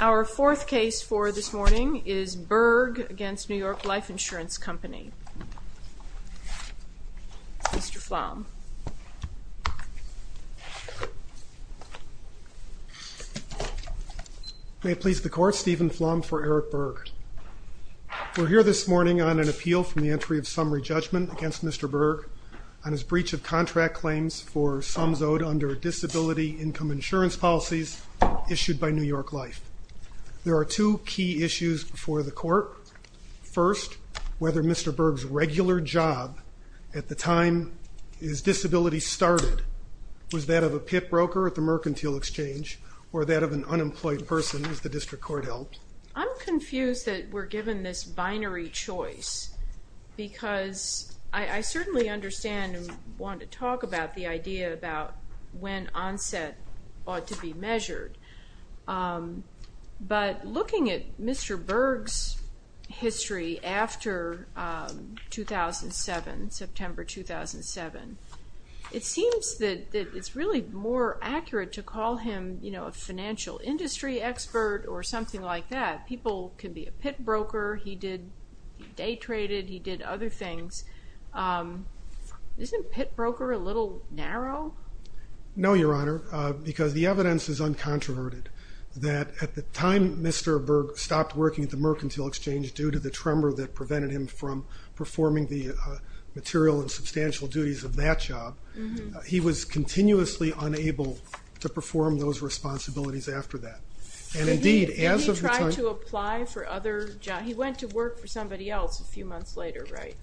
Our fourth case for this morning is Berg v. New York Life Insurance Company. Mr. Flom. May it please the Court, Stephen Flom for Eric Berg. We're here this morning on an appeal from the entry of summary judgment against Mr. Berg on his breach of contract claims for sums owed under disability income insurance policies issued by New York Life. There are two key issues before the Court. First, whether Mr. Berg's regular job at the time his disability started was that of a pit broker at the mercantile exchange or that of an unemployed person as the district court held. I'm confused that we're given this binary choice because I certainly understand and want to talk about the idea about when onset ought to be measured. But looking at Mr. Berg's history after 2007, September 2007, it seems that it's really more accurate to call him you know a financial industry expert or something like that. People can be a pit broker, he did day traded, he did other things. Isn't pit broker a little narrow? No, Your Honor, because the evidence is uncontroverted that at the time Mr. Berg stopped working at the mercantile exchange due to the tremor that prevented him from performing the material and substantial duties of that job, he was continuously unable to perform those responsibilities after that. And indeed, as of the time... He went to work for somebody else a few months later, right?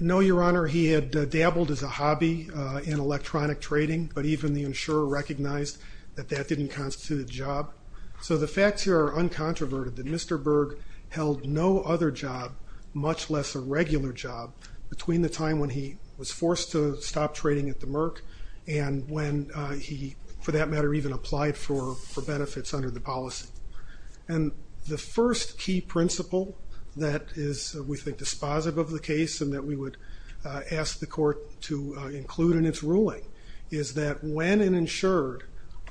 No, Your Honor, he had dabbled as a hobby in electronic trading, but even the insurer recognized that that didn't constitute a job. So the facts here are uncontroverted that Mr. Berg held no other job, much less a regular job, between the time when he was forced to stop trading at the merc and when he, for that matter, even applied for benefits under the policy. And the first key principle that is, we think, dispositive of the case and that we would ask the court to include in its ruling is that when an insured,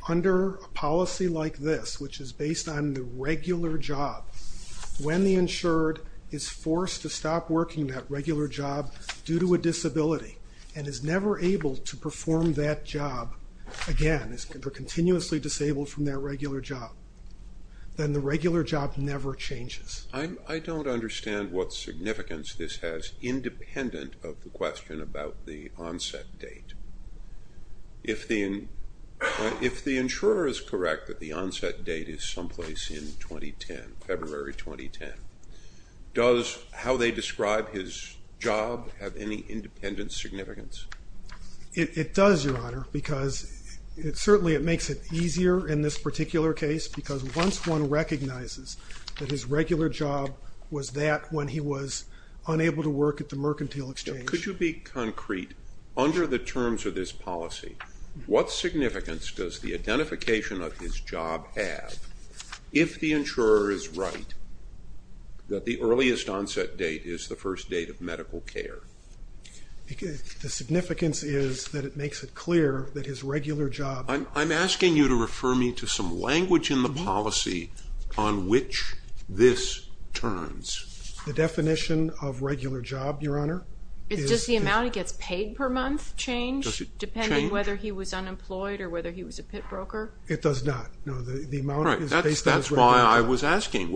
under a policy like this, which is based on the regular job, when the insured is forced to stop working that regular job due to a disability and is never able to perform that job again, is continuously disabled from that regular job, then the regular job never changes. I don't understand what significance this has independent of the question about the onset date. If the insurer is correct that the onset date is someplace in 2010, February 2010, does how they describe his job have any independent significance? It does, Your Honor, because certainly it makes it easier in this particular case, because once one recognizes that his regular job was that when he was unable to work at the mercantile exchange. Could you be concrete, under the terms of this policy, what significance does the identification of his job have if the insurer is right that the earliest onset date is the first date of medical care? The significance is that it makes it clear that his regular job. I'm asking you to refer me to some language in the policy on which this turns. The definition of regular job, Your Honor? Does the amount he gets paid per month change, depending on whether he was unemployed or whether he was a pit broker? It does not. That's why I was written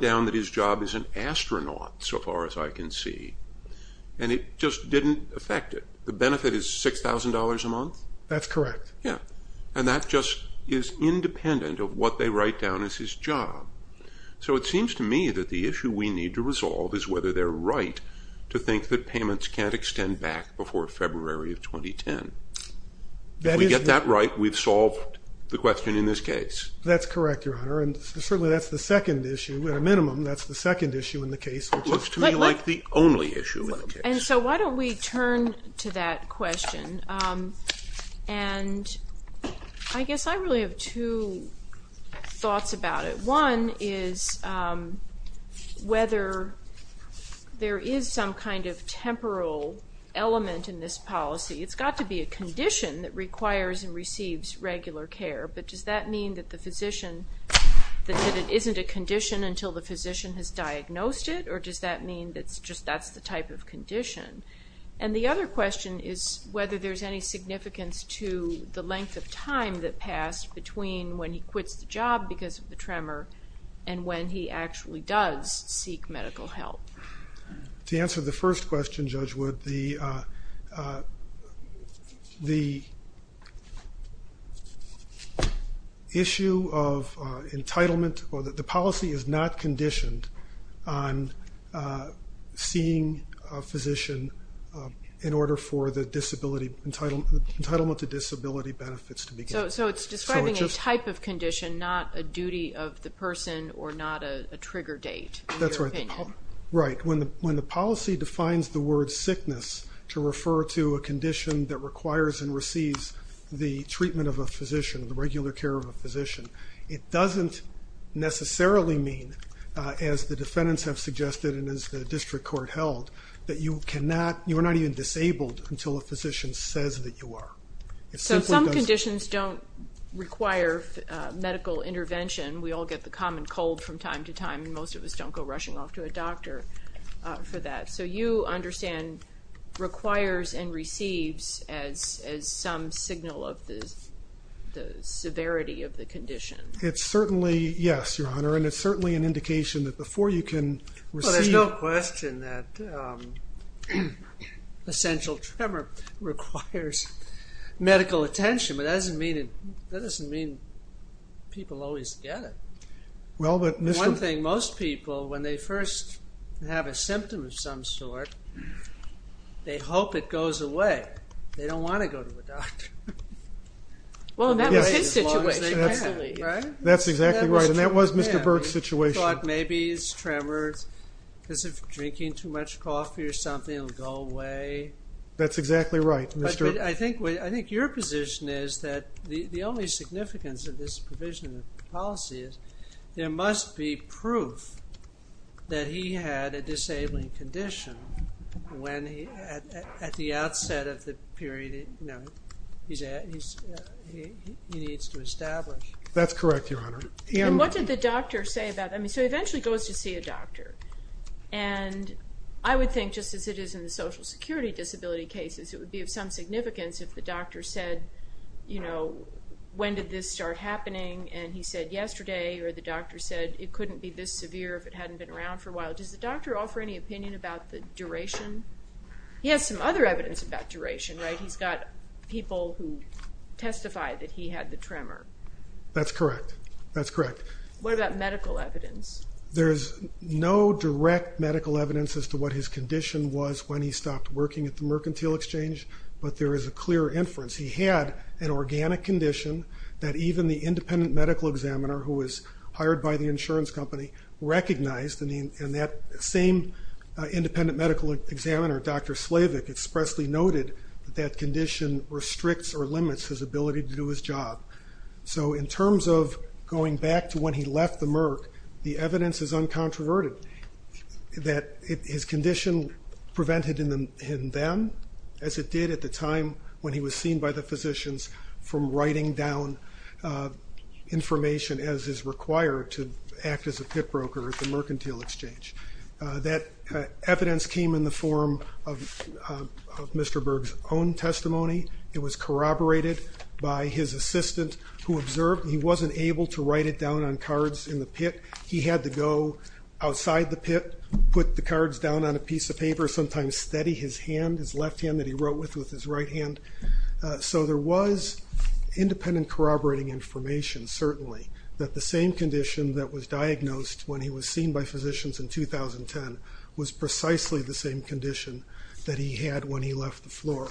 down that his job is an astronaut, so far as I can see, and it just didn't affect it. The benefit is $6,000 a month? That's correct. And that just is independent of what they write down as his job. So it seems to me that the issue we need to resolve is whether they're right to think that payments can't extend back before February of 2010. If we get that right, we've That's the second issue. At a minimum, that's the second issue in the case. It looks to me like the only issue in the case. And so why don't we turn to that question? And I guess I really have two thoughts about it. One is whether there is some kind of temporal element in this policy. It's got to be a condition that requires and receives regular care, but does that mean that the isn't a condition until the physician has diagnosed it, or does that mean that that's the type of condition? And the other question is whether there's any significance to the length of time that passed between when he quits the job because of the tremor and when he actually does seek medical help. To answer the first question, Judge Wood, the policy is not conditioned on seeing a physician in order for the entitlement to disability benefits to be given. So it's describing a type of condition, not a duty of the person or not a trigger date, in your opinion. Right. When the policy defines the word sickness to refer to a condition that requires and receives the treatment of a physician, the regular care of a physician, it doesn't necessarily mean, as the defendants have suggested and as the district court held, that you are not even disabled until a physician says that you are. So some conditions don't require medical intervention. We all get the common cold from time to time and most of us don't go rushing off to a doctor for that. So you understand requires and receives as some signal of the severity of the condition. It's certainly, yes, Your Honor, and it's certainly an indication that before you can receive... Well, there's no question that essential tremor requires medical attention, but that doesn't mean people always get it. One thing, most people, when they first have a symptom of some sort, they hope it goes away. They don't want to go to a doctor. Well, that was his situation. That's exactly right, and that was Mr. Burt's situation. He thought maybe it's tremors, because if you're drinking too much coffee or something, it'll go away. That's exactly right. I think your position is that the only significance of this provision of policy is there must be proof that he had a disabling condition at the outset of the period he needs to establish. That's correct, Your Honor. And what did the doctor say about that? So he eventually goes to see a doctor. And I would think, just as it is in the Social Security disability cases, it would be of some significance if the doctor said, you know, when did this start happening, and he said yesterday, or the doctor said it couldn't be this severe if it hadn't been around for a while. Does the doctor offer any opinion about the duration? He has some other evidence about duration, right? He's got people who testify that he had the tremor. That's correct. That's correct. What about medical evidence? There's no direct medical evidence as to what his condition was when he stopped working at the Mercantile Exchange, but there is a clear inference. He had an organic condition that even the independent medical examiner, who was hired by the insurance company, recognized, and that same independent medical examiner, Dr. Slavik, expressly noted that that condition restricts or limits his ability to do his job. So in terms of going back to when he left the Merc, the evidence is uncontroverted, that his condition prevented him then, as it did at the time when he was seen by the physicians, from writing down information as is required to act as a pit broker at the Mercantile Exchange. That evidence came in the form of Mr. Berg's own testimony. It was corroborated by his assistant, who observed he wasn't able to write it down on cards in the pit. He had to go outside the pit, put the cards down on a piece of paper, sometimes steady his hand, his left hand that he wrote with with his right hand. So there was independent corroborating information, certainly, that the same condition that was diagnosed when he was seen by physicians in 2010 was precisely the same condition that he had when he left the floor.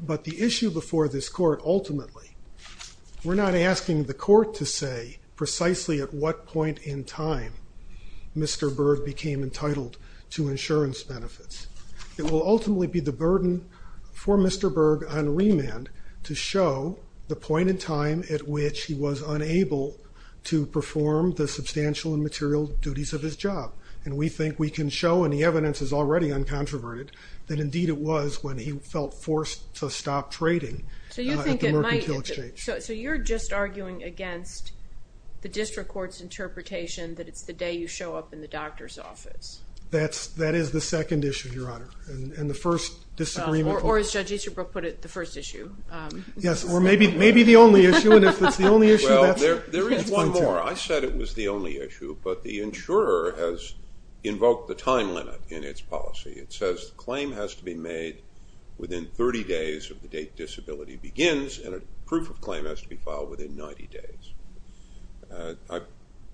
But the issue before this Court, ultimately, we're not asking the Court to say precisely at what point in time Mr. Berg became entitled to insurance benefits. It will ultimately be the burden for Mr. Berg on remand to show the point in time at which he was unable to perform the substantial and material duties of his job. And we think we can show, and the evidence is already uncontroverted, that indeed it was when he felt forced to stop trading at the Mercantile Exchange. So you're just arguing against the District Court's interpretation that it's the day you show up in the doctor's office. That is the second issue, Your Honor, and the first disagreement. Or as Judge Easterbrook put it, the first issue. Yes, or maybe the only issue, and if it's the only issue, that's one more. I said it was the only issue, but the insurer has invoked the time limit in its policy. It says the claim has to be made within 30 days of the date disability begins, and a proof of claim has to be filed within 90 days. I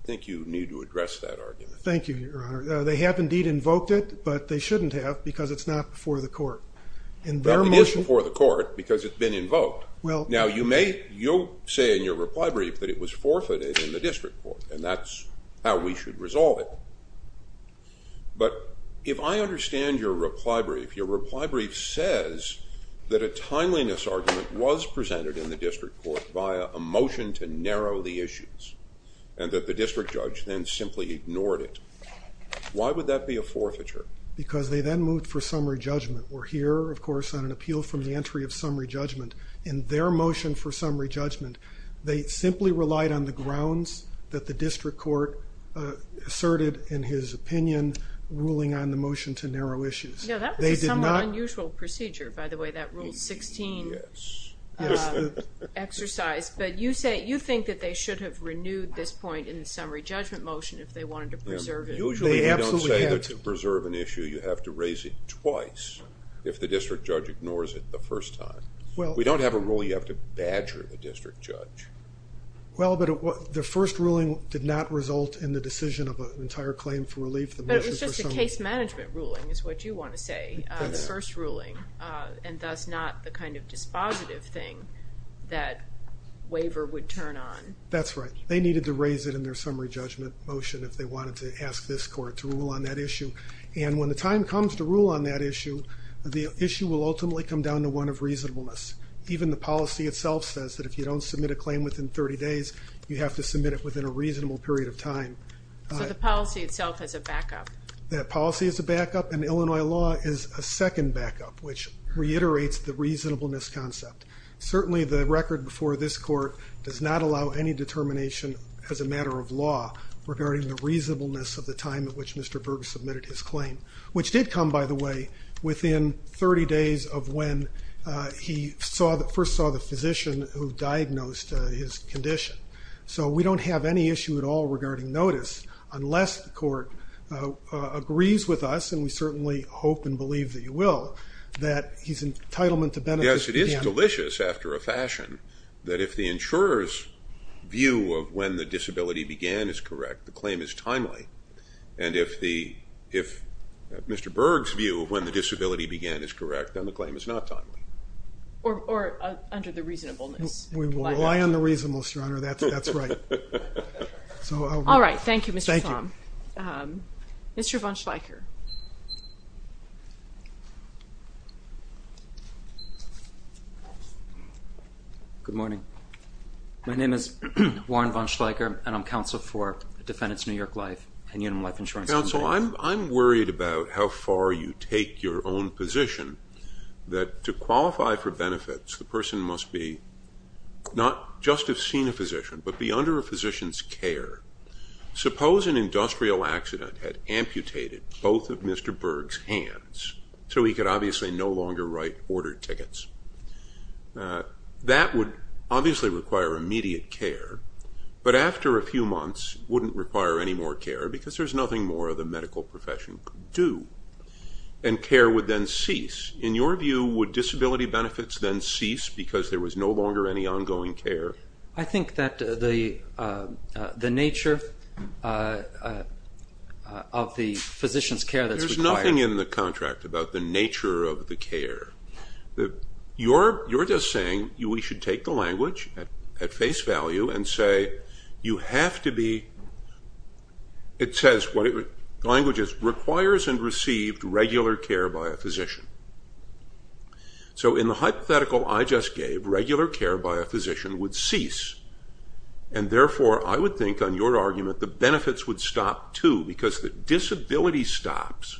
think you need to address that argument. Thank you, Your Honor. They have indeed invoked it, but they shouldn't have because it's not before the Court. It is before the Court because it's been invoked. Now you may say in your reply brief that it was forfeited in the District Court, and that's how we should resolve it. But if I understand your reply brief, your reply brief says that a timeliness argument was presented in the District Court via a motion to narrow the issues, and that the District Judge then simply ignored it. Why would that be a forfeiture? Because they then moved for summary judgment. We're here, of course, on an appeal from the entry of summary judgment. In their motion for summary judgment, they simply relied on the grounds that the District Court asserted in his opinion ruling on the motion to narrow issues. No, that was a somewhat unusual procedure, by the way. That Rule 16 exercise. But you think that they should have renewed this point in the summary judgment motion if they wanted to preserve it. Usually they don't say that to preserve an issue you have to raise it twice if the District Judge ignores it the first time. We don't have a rule you have to badger the District Judge. Well, but the first ruling did not result in the decision of an entire claim for relief. But it was just a case management ruling is what you want to say. The first ruling, and thus not the kind of dispositive thing that waiver would turn on. That's right. They needed to raise it in their summary judgment motion if they wanted to ask this Court to rule on that issue. And when the time comes to rule on that issue, the issue will ultimately come down to one of reasonableness. Even the policy itself says that if you don't submit a claim within 30 days, you have to submit it within a reasonable period of time. So the policy itself has a backup? The policy is a backup, and Illinois law is a second backup, which reiterates the reasonableness concept. Certainly the record before this Court does not allow any determination as a matter of law regarding the reasonableness of the time at which Mr. Berger submitted his claim. Which did come, by the way, within 30 days of when he first saw the physician who diagnosed his condition. So we don't have any issue at all regarding notice unless the Court agrees with us, and we certainly hope and believe that you will, that he's entitlement to benefit. Yes, it is delicious, after a fashion, that if the insurer's view of when the disability began is correct, the claim is timely. And if Mr. Berger's view of when the disability began is correct, then the claim is not timely. Or under the reasonableness. We will rely on the reasonableness, Your Honor, that's right. All right, thank you, Mr. Slom. Mr. Von Schleicher. Good morning. My name is Warren Von Schleicher, and I'm counsel for Defendants New York Life and Uniform Life Insurance. Counsel, I'm worried about how far you take your own position, that to qualify for benefits, the person must be, not just have seen a physician, but be under a physician's care. Suppose an industrial accident had amputated both of Mr. Berger's hands, so he could obviously no longer write order tickets. That would obviously require immediate care. But after a few months, it wouldn't require any more care, because there's nothing more the medical profession could do. And care would then cease. In your view, would disability benefits then cease, because there was no longer any ongoing care? I think that the nature of the physician's care that's required... There's nothing in the contract about the nature of the care. You're just saying we should take the language at face value and say, you have to be... It says, the language is, requires and received regular care by a physician. So in the hypothetical I just gave, regular care by a physician would cease. And therefore, I would think, on your argument, the benefits would stop too, because the disability stops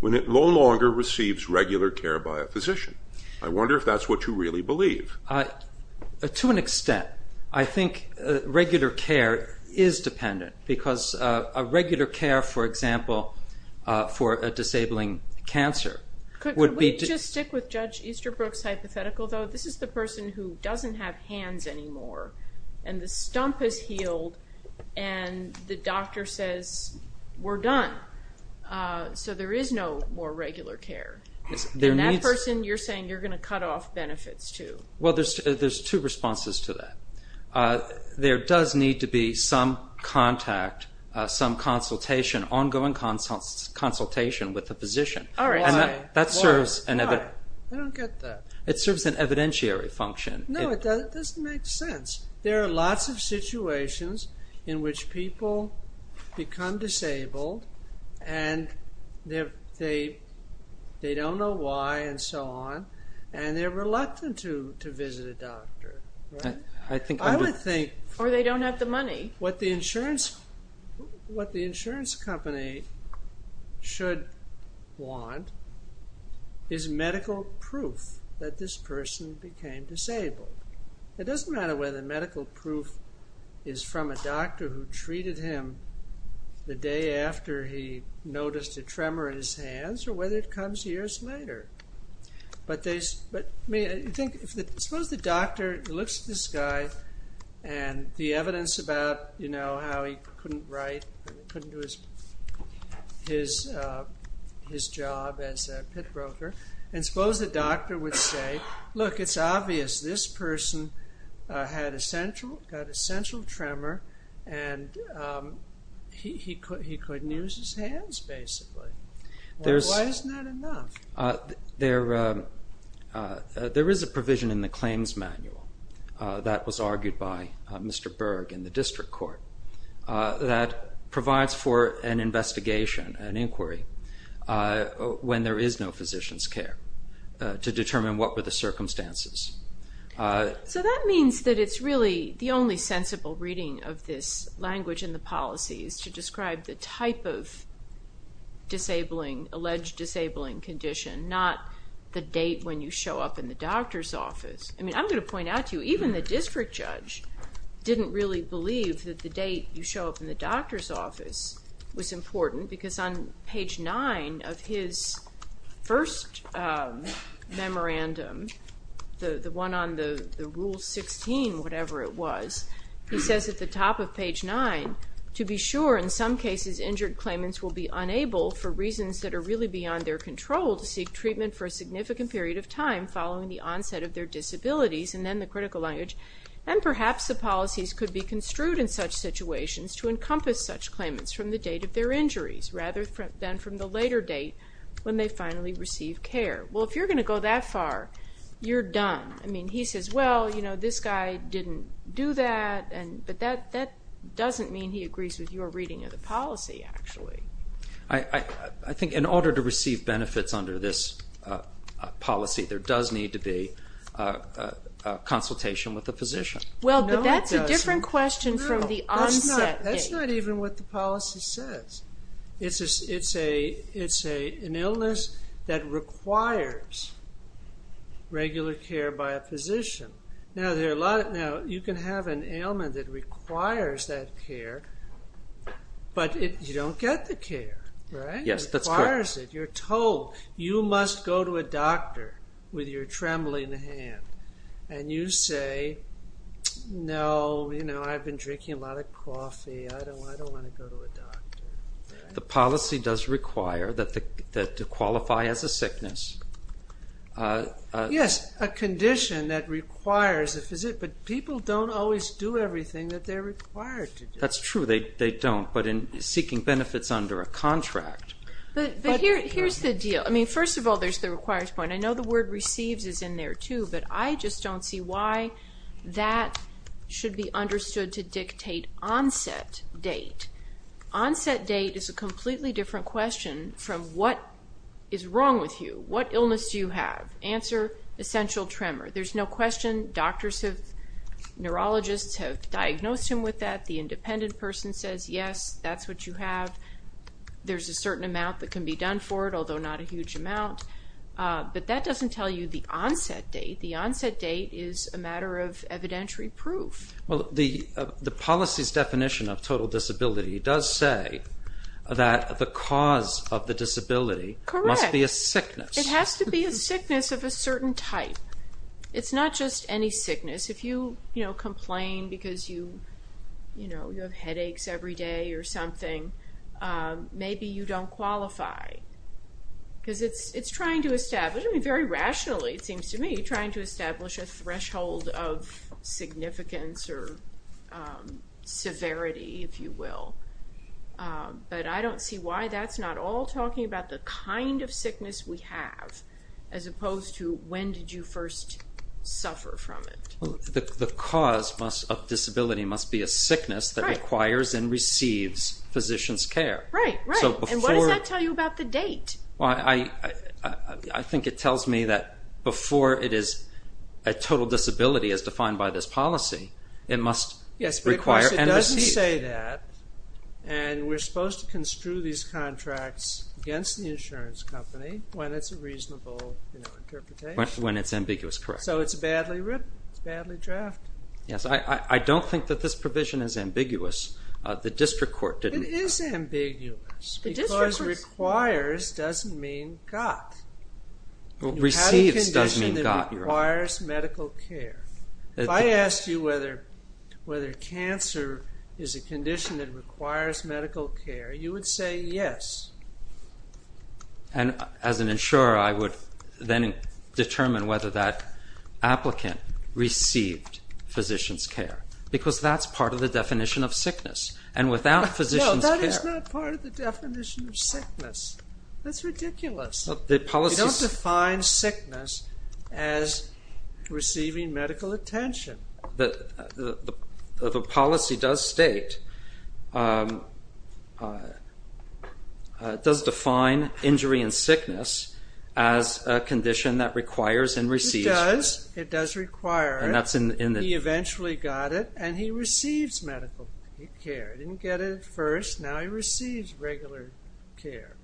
when it no longer receives regular care by a physician. I wonder if that's what you really believe. To an extent. I think regular care is dependent, because a regular care, for example, for a disabling cancer would be... Could we just stick with Judge Easterbrook's hypothetical, though? This is the person who doesn't have hands anymore, and the stump is healed, and the doctor says, we're done. So there is no more regular care. And that person, you're saying, you're going to cut off benefits too. Well, there's two responses to that. There does need to be some contact, some consultation, ongoing consultation with the physician. Why? I don't get that. It serves an evidentiary function. No, it doesn't make sense. There are lots of situations in which people become disabled, and they don't know why, and so on, and they're reluctant to visit a doctor. I would think... Or they don't have the money. What the insurance company should want is medical proof that this person became disabled. It doesn't matter whether the medical proof is from a doctor who treated him the day after he noticed a tremor in his hands, or whether it comes years later. Suppose the doctor looks at this guy and the evidence about how he couldn't write, couldn't do his job as a pit broker, and suppose the doctor would say, look, it's obvious this person got a central tremor, and he couldn't use his hands, basically. Why isn't that enough? There is a provision in the claims manual that was argued by Mr. Berg in the district court that provides for an investigation, an inquiry, when there is no physician's care, to determine what were the circumstances. So that means that it's really the only sensible reading of this language and the policies to describe the type of alleged disabling condition, not the date when you show up in the doctor's office. I'm going to point out to you, even the district judge didn't really believe that the date you show up in the doctor's office was important, because on page 9 of his first memorandum, the one on the rule 16, whatever it was, he says at the top of page 9, to be sure, in some cases, injured claimants will be unable, for reasons that are really beyond their control, to seek treatment for a significant period of time following the onset of their disabilities, and then the critical language, and perhaps the policies could be construed in such situations to encompass such claimants from the date of their injuries, rather than from the later date when they finally receive care. Well, if you're going to go that far, you're done. He says, well, this guy didn't do that, but that doesn't mean he agrees with your reading of the policy, actually. I think in order to receive benefits under this policy, there does need to be consultation with the physician. Well, but that's a different question from the onset date. That's not even what the policy says. It's an illness that requires regular care by a physician. Now, you can have an ailment that requires that care, but you don't get the care, right? Yes, that's correct. You're told you must go to a doctor with your trembling hand, and you say, no, I've been drinking a lot of coffee, I don't want to go to a doctor. The policy does require that to qualify as a sickness, Yes, a condition that requires a physician, but people don't always do everything that they're required to do. That's true, they don't, but in seeking benefits under a contract. But here's the deal. First of all, there's the requires point. I know the word receives is in there too, but I just don't see why that should be understood to dictate onset date. Onset date is a completely different question from what is wrong with you. What illness do you have? Answer, essential tremor. There's no question. Neurologists have diagnosed him with that. The independent person says, yes, that's what you have. There's a certain amount that can be done for it, although not a huge amount. But that doesn't tell you the onset date. The onset date is a matter of evidentiary proof. The policy's definition of total disability does say that the cause of the disability must be a sickness. It has to be a sickness of a certain type. It's not just any sickness. If you complain because you have headaches every day or something, maybe you don't qualify. Because it's trying to establish, very rationally it seems to me, trying to establish a threshold of significance or severity, if you will. I don't see why that's not all talking about the kind of sickness we have as opposed to when did you first suffer from it. The cause of disability must be a sickness that requires and receives physician's care. What does that tell you about the date? I think it tells me that before it is a total disability as defined by this policy, it must require and receive. We're supposed to construe these contracts against the insurance company when it's a reasonable interpretation. When it's ambiguous. So it's badly written. It's badly drafted. I don't think that this provision is ambiguous. The district court didn't. It is ambiguous because requires doesn't mean got. Receives requires medical care. If I asked you whether cancer is a condition that requires medical care, you would say yes. As an insurer, I would then determine whether that applicant received physician's care because that's part of the definition of sickness. That is not part of the definition of sickness. That's ridiculous. We don't define sickness as receiving medical attention. The policy does state it does define injury and sickness as a condition that requires and receives. It does require it. He eventually got it and he receives medical care. He didn't get it first, now he receives regular care.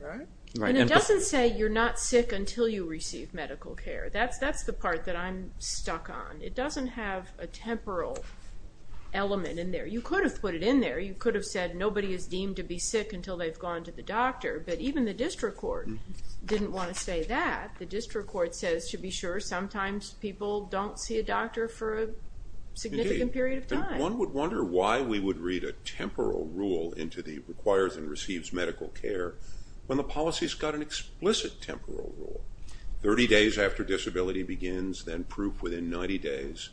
It doesn't say you're not sick until you receive medical care. That's the part that I'm stuck on. It doesn't have a temporal element in there. You could have put it in there. You could have said nobody is deemed to be sick until they've gone to the doctor. But even the district court didn't want to say that. The district court says to be sure sometimes people don't see a doctor for a significant period of time. One would wonder why we would read a temporal rule into the requires and receives medical care when the policy has got an explicit temporal rule. 30 days after disability begins, then proof within 90 days.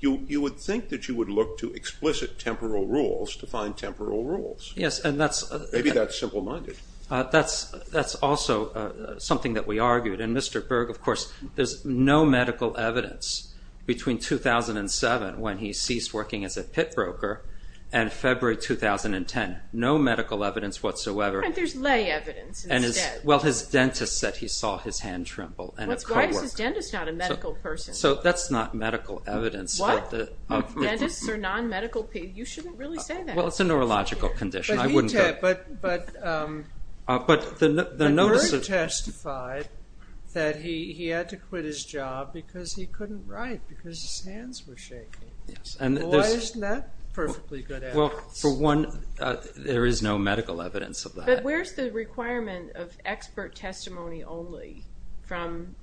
You would think that you would look to explicit temporal rules to find temporal rules. Maybe that's simple minded. That's also something that we argued. Mr. Berg, of course, there's no medical evidence between 2007 when he ceased working as a pit broker and February 2010. No medical evidence whatsoever. There's lay evidence. His dentist said he saw his hand tremble. Why is his dentist not a medical person? That's not medical evidence. What? You shouldn't really say that. It's a neurological condition. But Berg testified that he had to quit his job because he couldn't write because his hands were shaking. Why isn't that perfectly good evidence? There is no medical evidence of that. Where's the requirement of expert testimony only from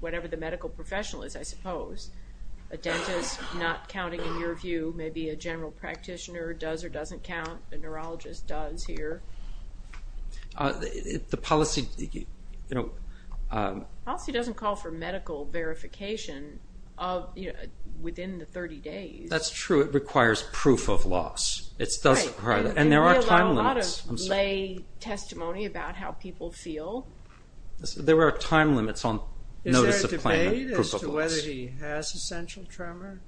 whatever the medical professional is, I suppose. A dentist not counting, in your view, maybe a general practitioner does or doesn't count, a neurologist does here. The policy... The policy doesn't call for medical verification within the 30 days. That's true. It requires proof of loss. And there are time limits. Lay testimony about how people feel. There are time limits on notice of claim and proof of loss. Is there a debate as to whether he has essential tremor?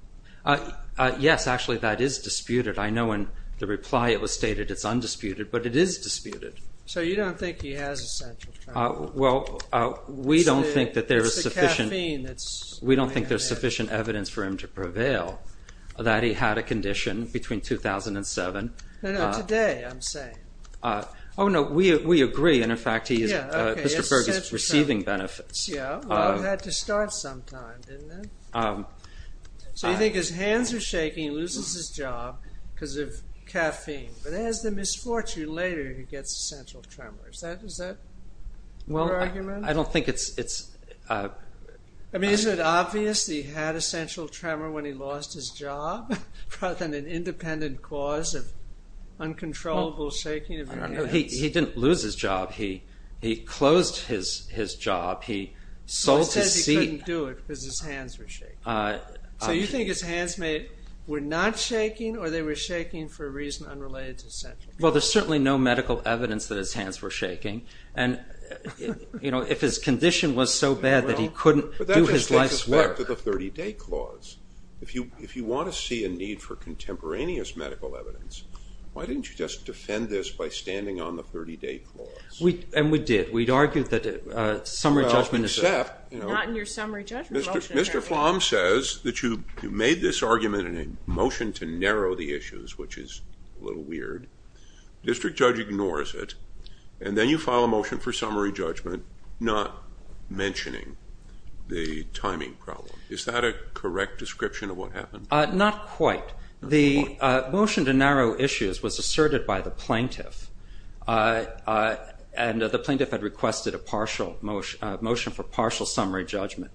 Yes, actually, that is disputed. I know in the reply it was stated it's undisputed, but it is disputed. So you don't think he has essential tremor? We don't think there's sufficient evidence We don't think there's sufficient evidence for him to prevail that he had a condition between 2007 Today, I'm saying. Oh, no, we agree. And, in fact, Mr. Berge is receiving benefits. Well, it had to start sometime, didn't it? So you think his hands are shaking, he loses his job because of caffeine. But as the misfortune later, he gets essential tremor. Is that your argument? I don't think it's... I mean, is it obvious he had essential tremor when he lost his job, rather than an independent cause of uncontrollable shaking of his hands? He didn't lose his job. He closed his job. He sold his seat. So you think his hands were not shaking, or they were shaking for a reason unrelated to essential tremor? Well, there's certainly no medical evidence that his hands were shaking. And, you know, if his condition was so bad that he couldn't do his life's work... But that just takes us back to the 30-day clause. If you want to see a need for contemporaneous medical evidence, why didn't you just defend this by standing on the 30-day clause? And we did. We argued that summary judgment is... Well, except... Mr. Flom says that you made this argument in a motion to narrow the issues, which is a little weird. District judge ignores it, and then you file a motion for summary judgment, not mentioning the timing problem. Is that a correct description of what happened? Not quite. The motion to narrow issues was asserted by the plaintiff, and the plaintiff had requested a partial motion for partial summary judgment.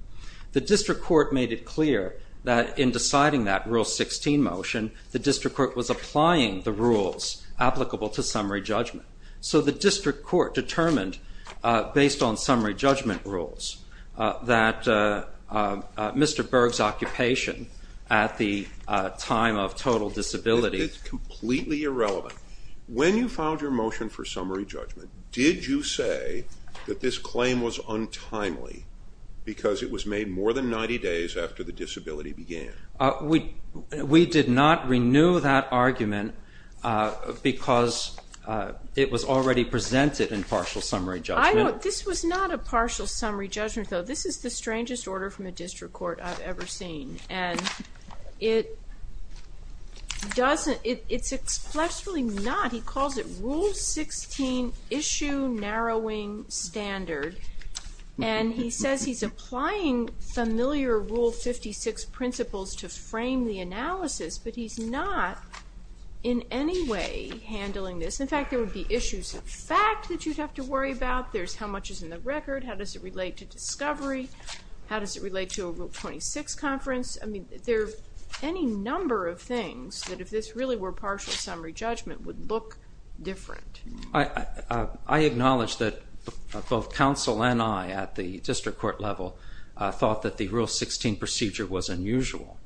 The district court made it clear that in deciding that Rule 16 motion, the district court was applying the rules applicable to summary judgment. So the district court determined, based on summary judgment rules, that Mr. Berg's occupation at the time of total disability... It's completely irrelevant. When you filed your motion for summary judgment, did you say that this claim was untimely because it was made more than 90 days after the disability began? We did not renew that argument because it was already presented in partial summary judgment. I don't... This was not a partial summary judgment, though. This is the strangest order from a district court I've ever seen, and it doesn't... It's expressly not. He calls it Rule 16 issue narrowing standard, and he says he's applying familiar Rule 56 principles to frame the analysis, but he's not in any way handling this. In fact, there would be issues of fact that you'd have to worry about. There's how much is in the record, how does it relate to discovery, how does it relate to a Rule 26 conference. I mean, there are any number of things that if this really were partial summary judgment would look different. I acknowledge that both counsel and I at the district court level thought that the Rule 16 procedure was unusual.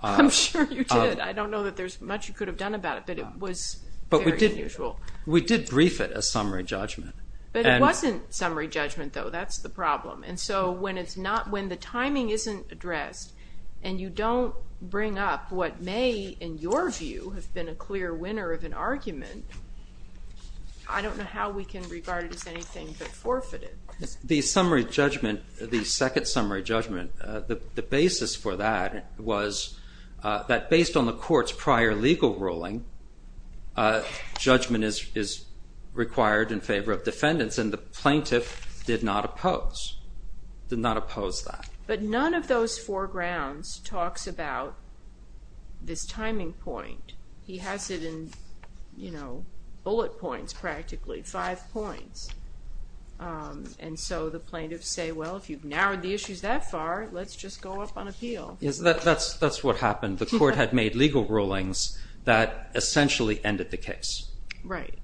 I'm sure you did. I don't know that there's much you could have done about it, but it was very unusual. But we did brief it as summary judgment. But it wasn't summary judgment, though. That's the problem. And so when it's not... When the timing isn't addressed and you don't bring up what may, in your view, have been a clear winner of an argument, I don't know how we can regard it as anything but forfeited. The summary judgment, the second summary judgment, the basis for that was that based on the court's prior legal ruling, judgment is required in favor of defendants, and the plaintiff did not oppose. Did not oppose that. But none of those four grounds talks about this timing point. He has it in, you know, bullet points, practically. Five points. And so the plaintiffs say, well, if you've narrowed the issues that far, let's just go up on appeal. That's what happened. The court had made legal rulings that essentially ended the case. Right.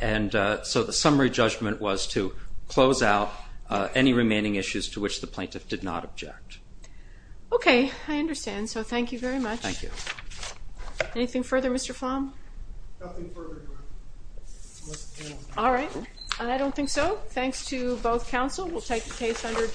And so the summary judgment was to close out any remaining issues to which the plaintiff did not object. Okay. I understand. So thank you very much. Thank you. Anything further, Mr. Flom? Nothing further, Your Honor. All right. And I don't think so. Thanks to both counsel. We'll take the case under...